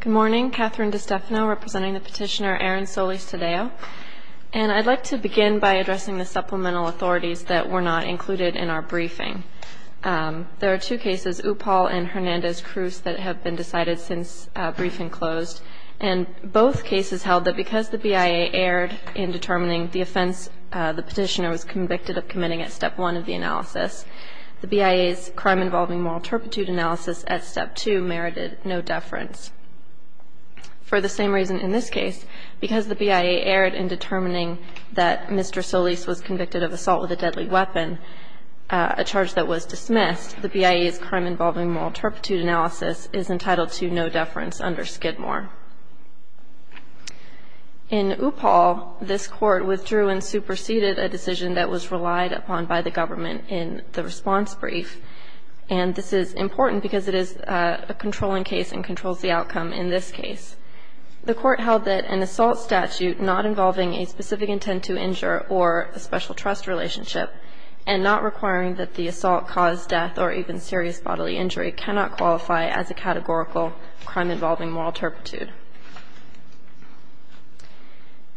Good morning, Catherine DiStefano representing the petitioner Aaron Solis-Tadeo. And I'd like to begin by addressing the supplemental authorities that were not included in our briefing. There are two cases, Upal and Hernandez-Cruz, that have been decided since briefing closed. And both cases held that because the BIA erred in determining the offense the petitioner was convicted of committing at Step 1 of the analysis, the BIA's crime-involving moral turpitude analysis at Step 2 merited no deference. For the same reason in this case, because the BIA erred in determining that Mr. Solis was convicted of assault with a deadly weapon, a charge that was dismissed, the BIA's crime-involving moral turpitude analysis is entitled to no deference under Skidmore. In Upal, this Court withdrew and superseded a decision that was relied upon by the government in the response brief. And this is important because it is a controlling case and controls the outcome in this case. The Court held that an assault statute not involving a specific intent to injure or a special trust relationship and not requiring that the assault cause death or even serious bodily injury cannot qualify as a categorical crime-involving moral turpitude.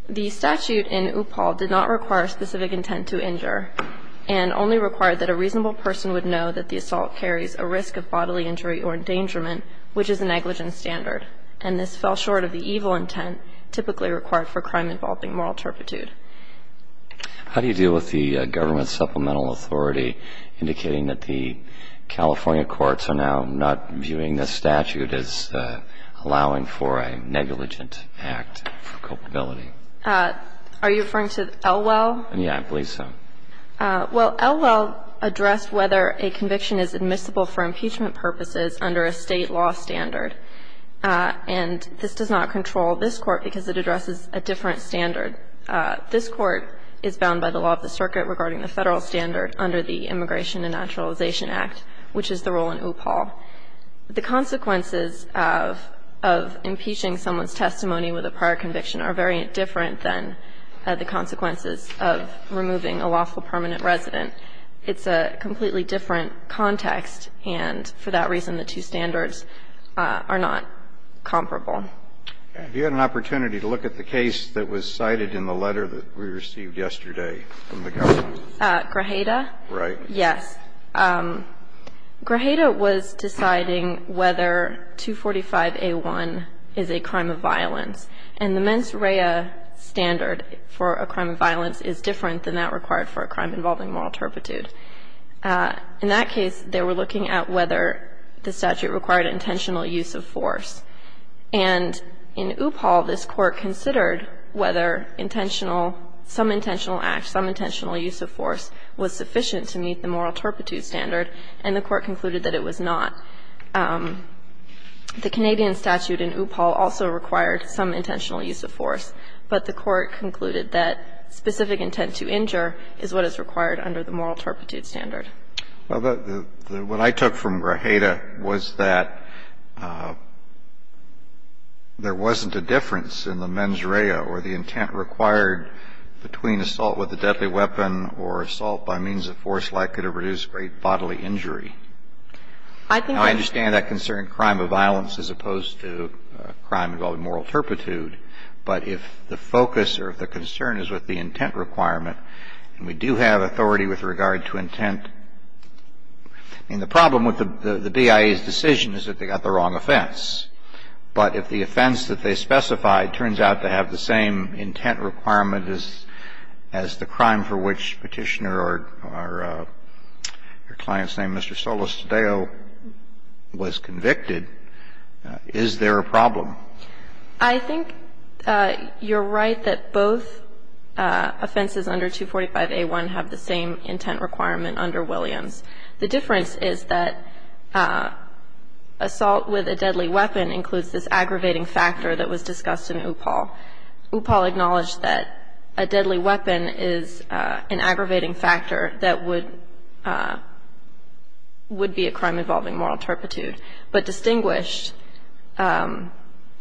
The statute in Upal did not require a specific intent to injure and only required that a reasonable person would know that the assault carries a risk of bodily injury or endangerment, which is a negligence standard. And this fell short of the evil intent typically required for crime-involving moral turpitude. How do you deal with the government's supplemental authority indicating that the California courts are now not viewing this statute as allowing for a negligent act of culpability? Are you referring to Elwell? Yes, I believe so. Well, Elwell addressed whether a conviction is admissible for impeachment purposes under a State law standard. And this does not control this Court because it addresses a different standard. This Court is bound by the law of the circuit regarding the Federal standard under the Immigration and Naturalization Act, which is the rule in Upal. The consequences of impeaching someone's testimony with a prior conviction are very different than the consequences of removing a lawful permanent resident. It's a completely different context, and for that reason the two standards are not comparable. Have you had an opportunity to look at the case that was cited in the letter that we Grajeda was deciding whether 245A1 is a crime of violence. And the mens rea standard for a crime of violence is different than that required for a crime-involving moral turpitude. In that case, they were looking at whether the statute required intentional use of force. And in Upal, this Court considered whether intentional – some intentional act, some intentional use of force was sufficient to meet the moral turpitude standard, and the Court concluded that it was not. The Canadian statute in Upal also required some intentional use of force, but the Court concluded that specific intent to injure is what is required under the moral turpitude standard. Well, what I took from Grajeda was that there wasn't a difference in the mens rea or the Now, if the intent to injure was to use a deadly weapon or assault by means of force, that could have reduced great bodily injury. I understand that concern, crime of violence, as opposed to a crime involving moral turpitude. But if the focus or if the concern is with the intent requirement, and we do have the same intent requirement as the crime for which Petitioner or your client's name, Mr. Solis-Tadeo, was convicted, is there a problem? I think you're right that both offenses under 245a1 have the same intent requirement under Williams. The difference is that assault with a deadly weapon includes this aggravating factor that was discussed in Upal. Upal acknowledged that a deadly weapon is an aggravating factor that would be a crime involving moral turpitude, but distinguished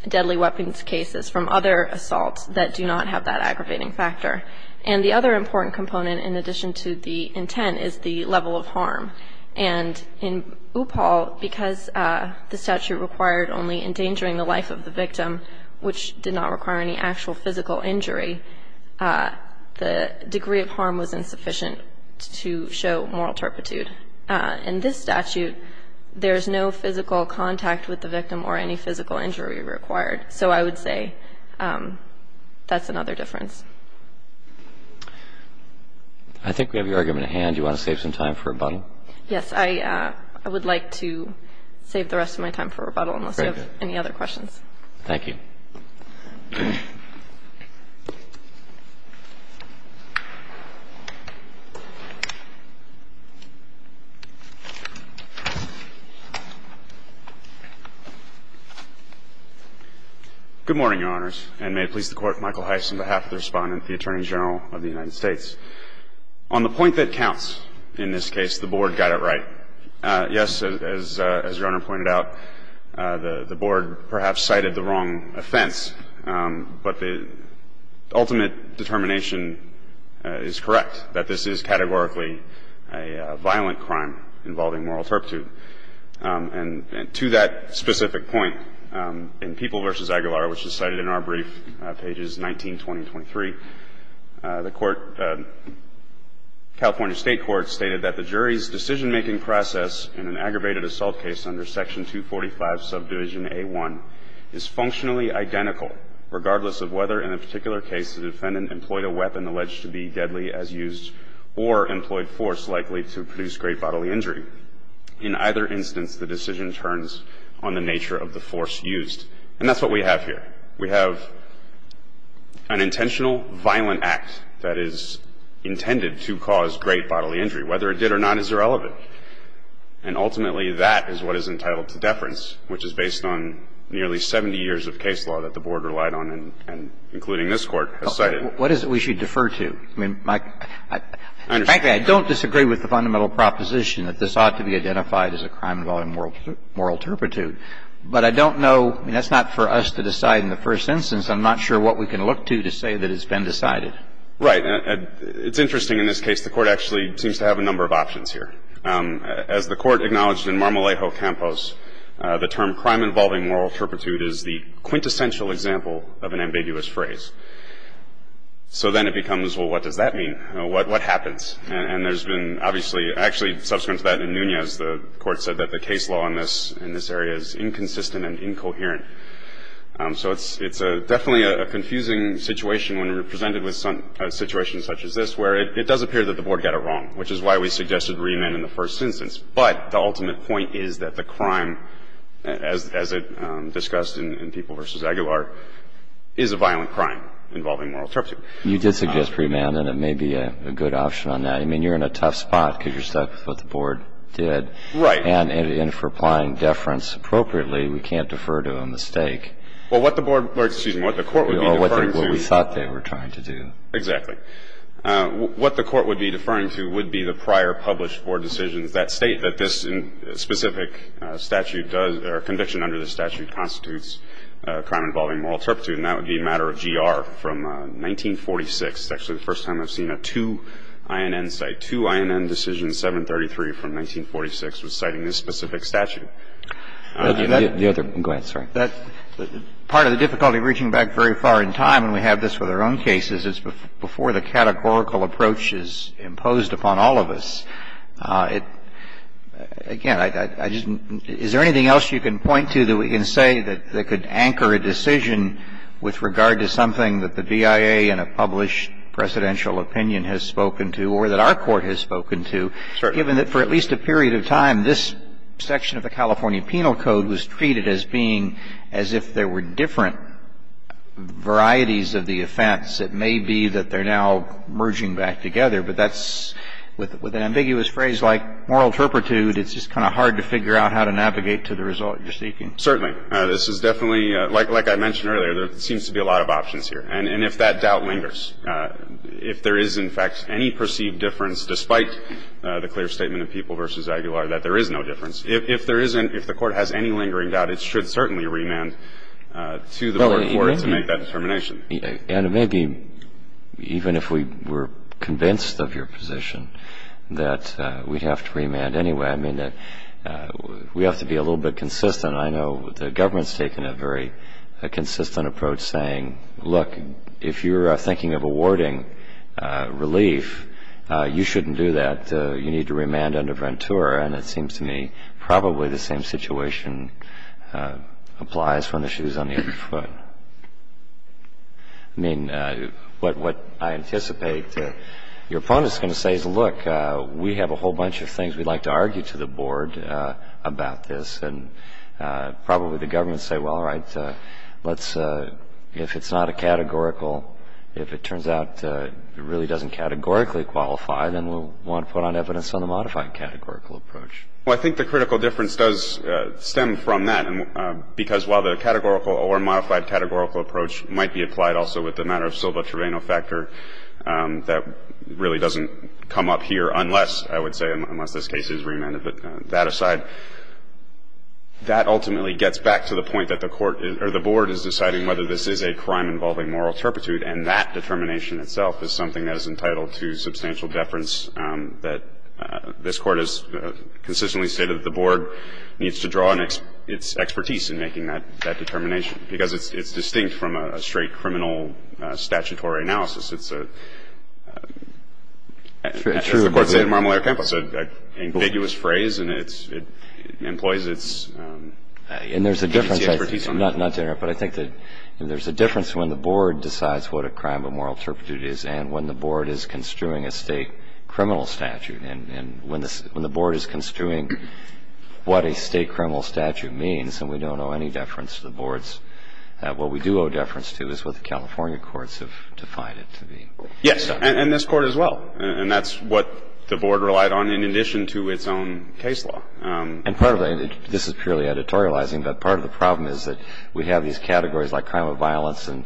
deadly weapons cases from other assaults that do not have that aggravating factor. And the other important component in addition to the intent is the level of harm. And in Upal, because the statute required only endangering the life of the victim, which did not require any actual physical injury, the degree of harm was insufficient to show moral turpitude. In this statute, there is no physical contact with the victim or any physical injury required. So I would say that's another difference. I think we have your argument at hand. Do you want to save some time for rebuttal? Yes. I would like to save the rest of my time for rebuttal unless you have any other questions. Thank you. Good morning, Your Honors. And may it please the Court, Michael Heiss on behalf of the Respondent, the Attorney General of the United States. On the point that counts in this case, the Board got it right. Yes, as Your Honor pointed out, the Board perhaps cited the wrong offense. But the ultimate determination is correct, that this is categorically a violent crime involving moral turpitude. And to that specific point, in People v. Aguilar, which is cited in our brief, pages 19, 20 and 23, the Court, California State Court, stated that the jury's decision-making process in an aggravated assault case under Section 245, Subdivision A1, is functionally identical regardless of whether, in a particular case, the defendant employed a weapon alleged to be deadly as used or employed force likely to produce great bodily injury. In either instance, the decision turns on the nature of the force used. And that's what we have here. We have an intentional violent act that is intended to cause great bodily injury. Whether it did or not is irrelevant. And ultimately, that is what is entitled to deference, which is based on nearly 70 years of case law that the Board relied on and including this Court has cited. What is it we should defer to? Frankly, I don't disagree with the fundamental proposition that this ought to be identified as a crime involving moral turpitude. But I don't know. I mean, that's not for us to decide in the first instance. I'm not sure what we can look to to say that it's been decided. Right. It's interesting, in this case, the Court actually seems to have a number of options here. As the Court acknowledged in Marmolejo Campos, the term crime involving moral turpitude is the quintessential example of an ambiguous phrase. So then it becomes, well, what does that mean? What happens? And there's been, obviously, actually, subsequent to that in Nunez, the Court said that the case law in this area is inconsistent and incoherent. So it's definitely a confusing situation when you're presented with a situation such as this where it does appear that the Board got it wrong, which is why we suggested remand in the first instance. But the ultimate point is that the crime, as it's discussed in People v. Aguilar, is a violent crime involving moral turpitude. You did suggest remand, and it may be a good option on that. I mean, you're in a tough spot because you're stuck with what the Board did. Right. And if we're applying deference appropriately, we can't defer to a mistake. Well, what the Court would be deferring to. Or what we thought they were trying to do. Exactly. What the Court would be deferring to would be the prior published Board decisions that state that this specific statute does, or conviction under this statute, constitutes a crime involving moral turpitude. And that would be a matter of GR from 1946. It's actually the first time I've seen a 2INN cite. I'm sorry. 2INN decision 733 from 1946 was citing this specific statute. The other one. Go ahead. Sorry. Part of the difficulty of reaching back very far in time, and we have this with our own cases, is before the categorical approach is imposed upon all of us, it – again, I just – is there anything else you can point to that we can say that could anchor a decision with regard to something that the VIA in a published presidential opinion has spoken to, or that our Court has spoken to, given that for at least a period of time, this section of the California Penal Code was treated as being as if there were different varieties of the offense. It may be that they're now merging back together. But that's – with an ambiguous phrase like moral turpitude, it's just kind of hard to figure out how to navigate to the result you're seeking. Certainly. This is definitely – like I mentioned earlier, there seems to be a lot of options here. And if that doubt lingers, if there is, in fact, any perceived difference, despite the clear statement of People v. Aguilar, that there is no difference, if there isn't – if the Court has any lingering doubt, it should certainly remand to the lower court to make that determination. And it may be, even if we were convinced of your position, that we'd have to remand anyway. I mean, we have to be a little bit consistent. I know the government's taken a very consistent approach, saying, look, if you're thinking of awarding relief, you shouldn't do that. You need to remand under Ventura. And it seems to me probably the same situation applies when the shoe's on the other foot. I mean, what I anticipate your opponent's going to say is, look, we have a whole bunch of things. We'd like to argue to the board about this. And probably the government will say, well, all right, let's – if it's not a categorical – if it turns out it really doesn't categorically qualify, then we'll want to put on evidence on the modified categorical approach. Well, I think the critical difference does stem from that, because while the categorical or modified categorical approach might be applied also with the matter of Silva-Trevino factor, that really doesn't come up here unless, I would say, unless this case is remanded. But that aside, that ultimately gets back to the point that the court – or the board is deciding whether this is a crime involving moral turpitude. And that determination itself is something that is entitled to substantial deference that this Court has consistently stated that the board needs to draw on its expertise in making that determination. Because it's distinct from a straight criminal statutory analysis. It's a – as the Court said in Marmalare-Campos, an ambiguous phrase. And it's – it employs its expertise on that. And there's a difference – not to interrupt. But I think that there's a difference when the board decides what a crime of moral turpitude is and when the board is construing a state criminal statute. And when the board is construing what a state criminal statute means, and we don't owe any deference to the boards, what we do owe deference to is what the California courts have defined it to be. Yes. And this Court as well. And that's what the board relied on in addition to its own case law. And part of the – this is purely editorializing. But part of the problem is that we have these categories like crime of violence and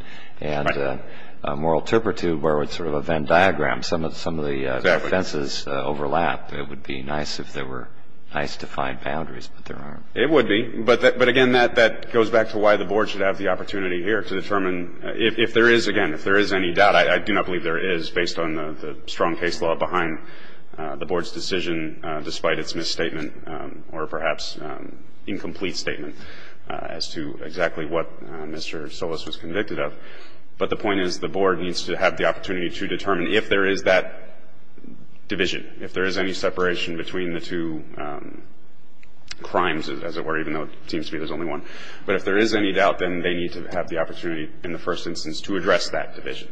moral turpitude where it's sort of a Venn diagram. Exactly. Some of the defenses overlap. It would be nice if there were nice defined boundaries, but there aren't. It would be. But again, that goes back to why the board should have the opportunity here to determine if there is – again, if there is any doubt. I do not believe there is based on the strong case law behind the board's decision despite its misstatement or perhaps incomplete statement as to exactly what Mr. Solis was convicted of. But the point is the board needs to have the opportunity to determine if there is that division, if there is any separation between the two crimes, as it were, even though it seems to me there's only one. But if there is any doubt, then they need to have the opportunity in the first instance to address that division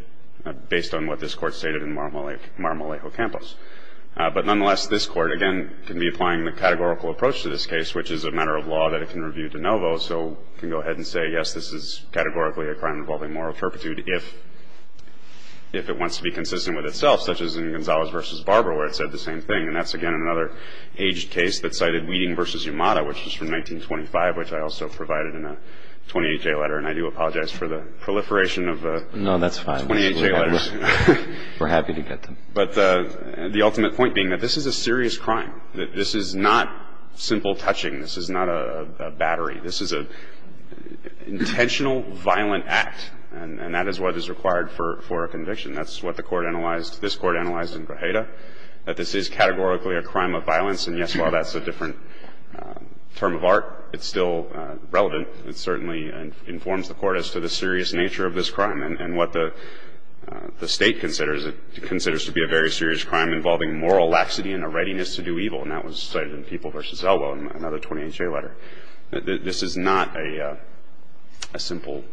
based on what this Court stated in Mar-a-Malejo Campos. But nonetheless, this Court, again, can be applying the categorical approach to this case, which is a matter of law that it can review de novo. So it can go ahead and say, yes, this is categorically a crime involving moral turpitude if it wants to be consistent with itself, such as in Gonzalez v. Barber where it said the same thing. And that's, again, another aged case that cited Weeding v. Yamada, which was from 1925, which I also provided in a 28-K letter. And I do apologize for the proliferation of the 28-K letters. No, that's fine. We're happy to get them. But the ultimate point being that this is a serious crime, that this is not simple touching. This is not a battery. This is an intentional violent act. And that is what is required for a conviction. That's what the Court analyzed, this Court analyzed in Grajeda, that this is categorically a crime of violence. And, yes, while that's a different term of art, it's still relevant. It certainly informs the Court as to the serious nature of this crime. And what the State considers, it considers to be a very serious crime involving moral laxity and a readiness to do evil. And that was cited in People v. Elbow, another 28-K letter. This is not a simple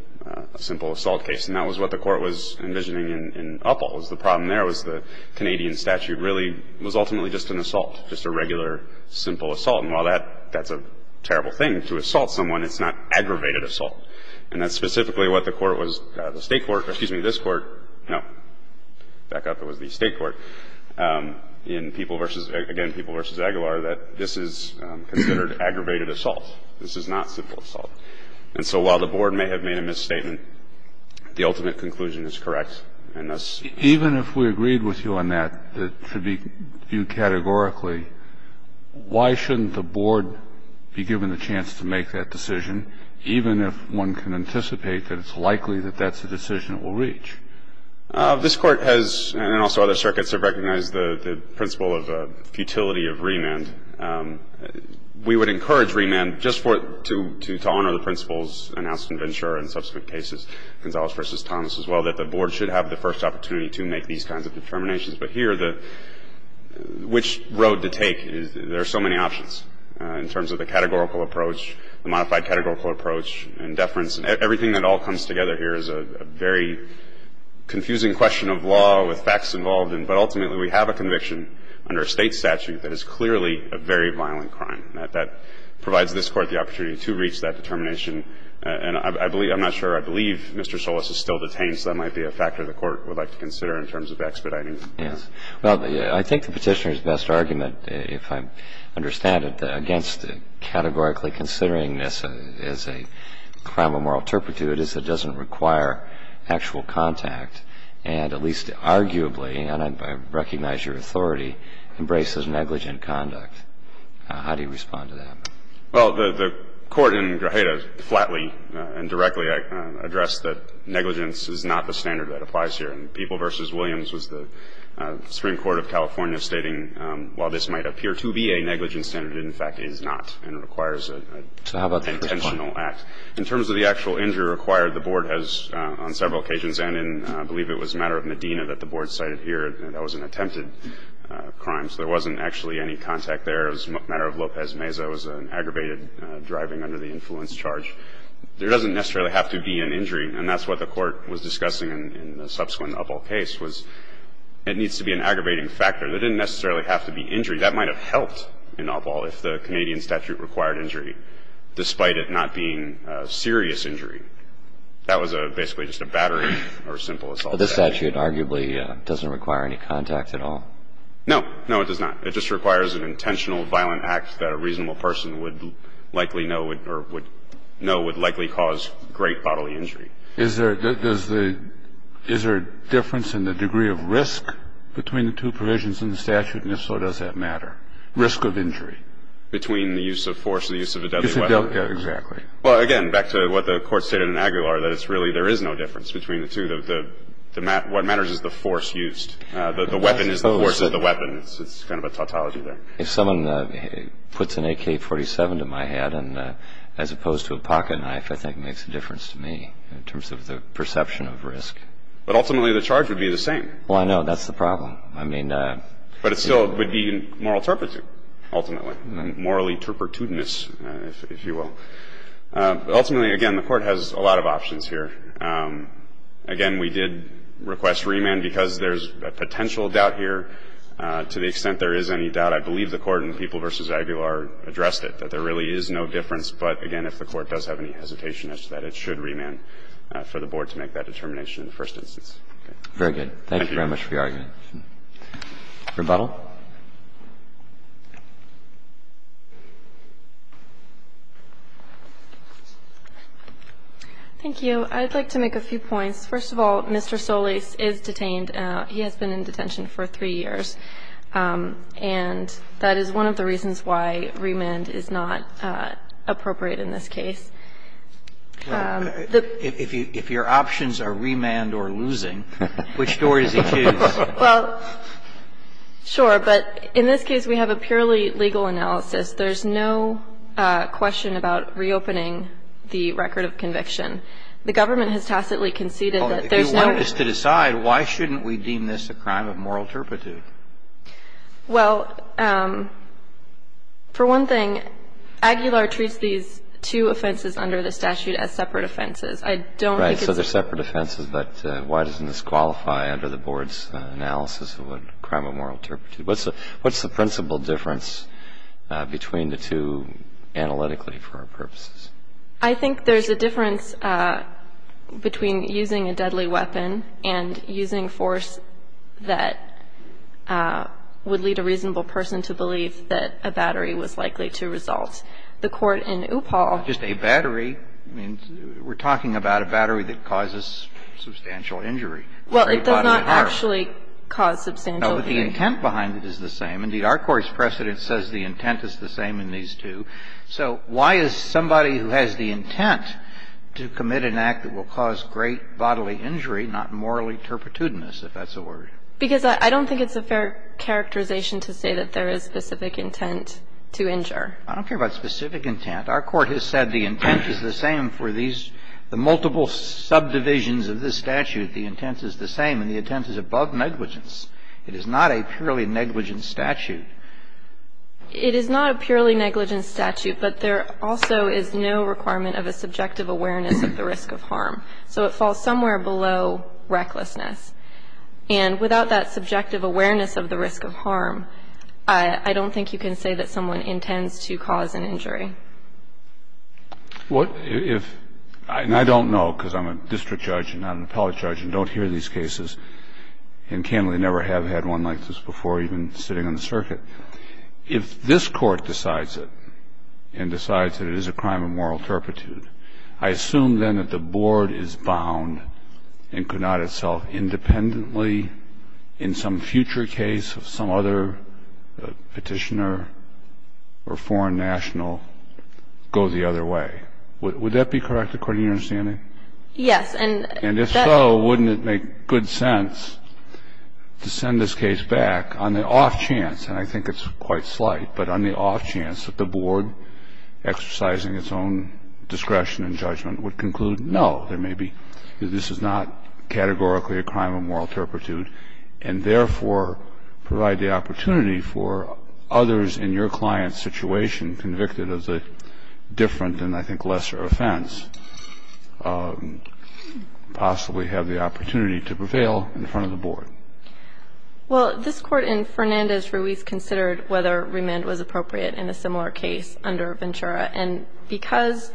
assault case. And that was what the Court was envisioning in Upholst. The problem there was the Canadian statute really was ultimately just an assault, just a regular simple assault. And while that's a terrible thing to assault someone, it's not aggravated assault. And that's specifically what the Court was, the State court, excuse me, this Court, no, back up, it was the State court, in People v. Again, People v. Aguilar, that this is considered aggravated assault. This is not simple assault. And so while the Board may have made a misstatement, the ultimate conclusion is correct. And thus ---- Even if we agreed with you on that, that it should be viewed categorically, why shouldn't the Board be given the chance to make that decision, even if one can anticipate that it's likely that that's the decision it will reach? This Court has, and also other circuits, have recognized the principle of futility of remand. We would encourage remand just to honor the principles announced in Ventura and subsequent cases, Gonzalez v. Thomas, as well, that the Board should have the first opportunity to make these kinds of determinations. But here, which road to take? There are so many options in terms of the categorical approach, the modified categorical approach, and deference. Everything that all comes together here is a very confusing question of law with facts involved in it. But ultimately, we have a conviction under a State statute that is clearly a very violent crime. That provides this Court the opportunity to reach that determination. And I believe, I'm not sure, I believe Mr. Solis is still detained, so that might be a factor the Court would like to consider in terms of expediting him. Yes. Well, I think the Petitioner's best argument, if I understand it, against categorically considering this as a crime of moral turpitude is it doesn't require actual contact, and at least arguably, and I recognize your authority, embraces negligent conduct. How do you respond to that? Well, the Court in Grajeda flatly and directly addressed that negligence is not the standard that applies here. And People v. Williams was the Supreme Court of California stating, while this might appear to be a negligent standard, it in fact is not, and requires an intentional act. So how about the first point? In terms of the actual injury required, the Board has, on several occasions, and in I believe it was a matter of Medina that the Board cited here, that was an attempted crime. So there wasn't actually any contact there. It was a matter of Lopez Meza. It was an aggravated driving under the influence charge. There doesn't necessarily have to be an injury, and that's what the Court was discussing in the subsequent Uppal case, was it needs to be an aggravating factor. There didn't necessarily have to be injury. That might have helped in Uppal if the Canadian statute required injury, despite it not being a serious injury. That was basically just a battery or a simple assault. This statute arguably doesn't require any contact at all? No. No, it does not. It just requires an intentional violent act that a reasonable person would likely know or would know would likely cause great bodily injury. Is there a difference in the degree of risk between the two provisions in the statute, and if so, does that matter, risk of injury? Between the use of force and the use of a deadly weapon. Exactly. Well, again, back to what the Court stated in Aguilar, that it's really there is no difference between the two. What matters is the force used. The weapon is the force of the weapon. It's kind of a tautology there. If someone puts an AK-47 to my head, as opposed to a pocket knife, I think it makes a difference to me in terms of the perception of risk. But ultimately, the charge would be the same. Well, I know. That's the problem. But it still would be moral turpitude, ultimately, morally turpitude-ness, if you will. But ultimately, again, the Court has a lot of options here. Again, we did request remand because there's a potential doubt here. To the extent there is any doubt, I believe the Court in People v. Aguilar addressed it, that there really is no difference. But again, if the Court does have any hesitation, it's that it should remand for the Board to make that determination in the first instance. Very good. Thank you very much for your argument. Thank you. Rebuttal. Thank you. So I'd like to make a few points. First of all, Mr. Solis is detained. He has been in detention for three years. And that is one of the reasons why remand is not appropriate in this case. If your options are remand or losing, which door does he choose? Well, sure. But in this case, we have a purely legal analysis. There's no question about reopening the record of conviction. The government has tacitly conceded that there's no ---- Well, if you want us to decide, why shouldn't we deem this a crime of moral turpitude? Well, for one thing, Aguilar treats these two offenses under the statute as separate I don't think it's ---- Right. So they're separate offenses. But why doesn't this qualify under the Board's analysis of a crime of moral turpitude? What's the principal difference between the two analytically for our purposes? I think there's a difference between using a deadly weapon and using force that would lead a reasonable person to believe that a battery was likely to result. The Court in Uppall ---- Just a battery? I mean, we're talking about a battery that causes substantial injury. Well, it does not actually cause substantial injury. No, but the intent behind it is the same. Indeed, our Court's precedent says the intent is the same in these two. So why is somebody who has the intent to commit an act that will cause great bodily injury not morally turpitudinous, if that's a word? Because I don't think it's a fair characterization to say that there is specific intent to injure. I don't care about specific intent. Our Court has said the intent is the same for these ---- the multiple subdivisions of this statute. The intent is the same, and the intent is above negligence. It is not a purely negligent statute. It is not a purely negligent statute, but there also is no requirement of a subjective awareness of the risk of harm. So it falls somewhere below recklessness. And without that subjective awareness of the risk of harm, I don't think you can say that someone intends to cause an injury. What if ---- And I don't know, because I'm a district judge and not an appellate judge, and don't hear these cases, and candidly never have had one like this before, even sitting on the circuit. If this Court decides it and decides that it is a crime of moral turpitude, I assume then that the board is bound and could not itself independently in some future case of some other Petitioner or foreign national go the other way. Would that be correct, according to your understanding? Yes. And if so, wouldn't it make good sense to send this case back on the off chance ---- and I think it's quite slight ---- but on the off chance that the board exercising its own discretion and judgment would conclude, no, there may be ---- this is not categorically a crime of moral turpitude, and therefore provide the opportunity for others in your client's situation, convicted as a different and I think lesser offense, possibly have the opportunity to prevail in front of the board? Well, this Court in Fernandez-Ruiz considered whether remand was appropriate in a similar case under Ventura. And because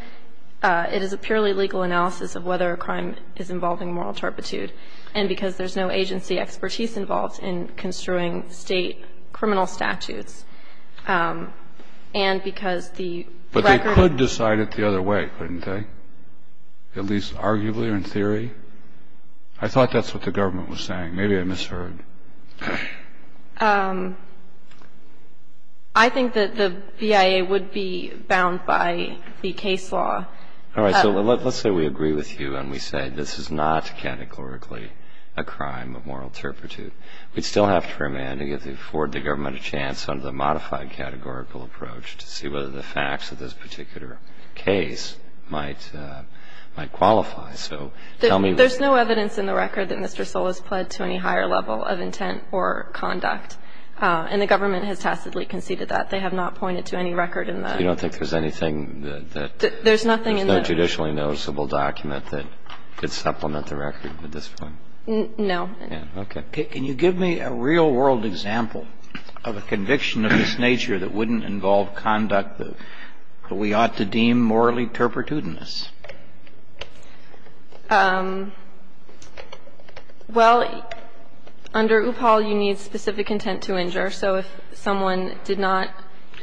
it is a purely legal analysis of whether a crime is involving moral turpitude, and because there's no agency expertise involved in construing State criminal statutes, and because the record ---- But they could decide it the other way, couldn't they? At least arguably or in theory? I thought that's what the government was saying. Maybe I misheard. I think that the BIA would be bound by the case law. All right. So let's say we agree with you and we say this is not categorically a crime of moral turpitude. We'd still have to remand to afford the government a chance under the modified categorical approach to see whether the facts of this particular case might qualify. So tell me ---- There's no evidence in the record that Mr. Solis pled to any higher level of intent or conduct. And the government has tacitly conceded that. They have not pointed to any record in the ---- You don't think there's anything that ---- There's nothing in the ---- There's no judicially noticeable document that could supplement the record at this point? No. Okay. Can you give me a real world example of a conviction of this nature that wouldn't involve conduct that we ought to deem morally turpitudinous? Well, under UPAL, you need specific intent to injure. So if someone did not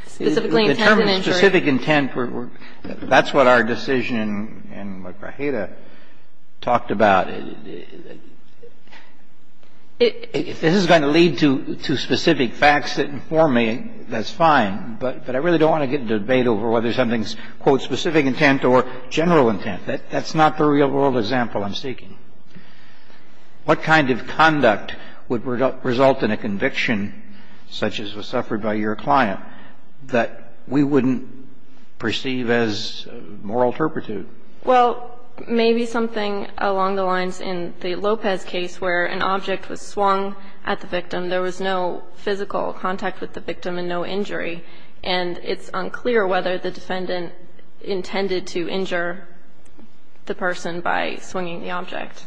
specifically intend to injure ---- Determine specific intent. That's what our decision in Guajira talked about. If this is going to lead to specific facts that inform me, that's fine. But I really don't want to get into a debate over whether something's, quote, specific intent or general intent. That's not the real world example I'm seeking. What kind of conduct would result in a conviction such as was suffered by your client that we wouldn't perceive as moral turpitude? Well, maybe something along the lines in the Lopez case where an object was swung at the victim. There was no physical contact with the victim and no injury. And it's unclear whether the defendant intended to injure the person by swinging the object.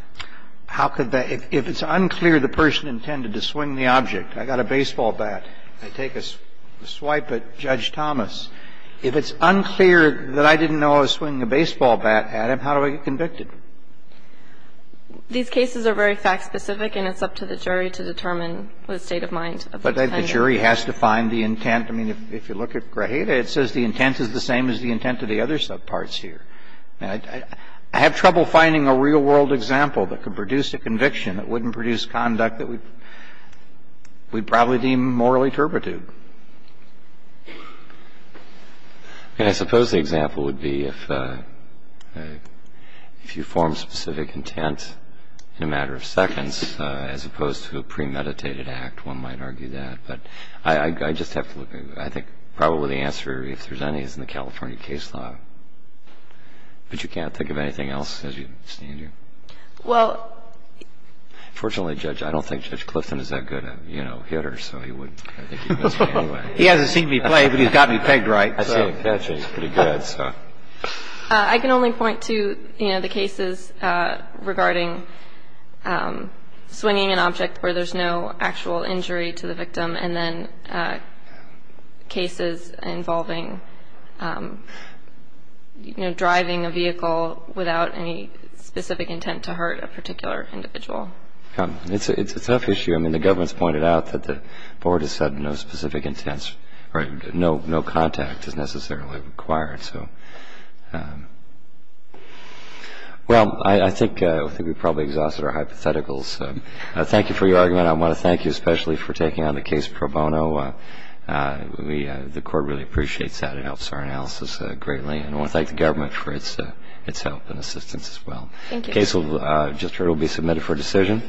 How could that ---- if it's unclear the person intended to swing the object. I got a baseball bat. I take a swipe at Judge Thomas. If it's unclear that I didn't know I was swinging a baseball bat at him, how do I get convicted? These cases are very fact specific, and it's up to the jury to determine the state of mind of the defendant. But the jury has to find the intent. I mean, if you look at Grajeda, it says the intent is the same as the intent of the other subparts here. I have trouble finding a real world example that could produce a conviction that wouldn't produce conduct that we'd probably deem morally turpitude. And I suppose the example would be if you form specific intent in a matter of seconds as opposed to a premeditated act, one might argue that. But I just have to look at it. I think probably the answer, if there's any, is in the California case law. But you can't think of anything else, as you stand here? Well... Unfortunately, Judge, I don't think Judge Clifton is that good a, you know, hitter, so he wouldn't. I think he'd miss me anyway. He hasn't seen me play, but he's got me pegged right. I see. That's pretty good. I can only point to, you know, the cases regarding swinging an object where there's no actual injury to the victim, and then cases involving, you know, driving a vehicle without any specific intent to hurt a particular individual. It's a tough issue. I mean, the government's pointed out that the board has said no specific intent, or no contact is necessarily required, so... Well, I think we've probably exhausted our hypotheticals. Thank you for your argument. I want to thank you especially for taking on the case pro bono. The court really appreciates that. It helps our analysis greatly. And I want to thank the government for its help and assistance as well. Thank you. The case, I just heard, will be submitted for decision.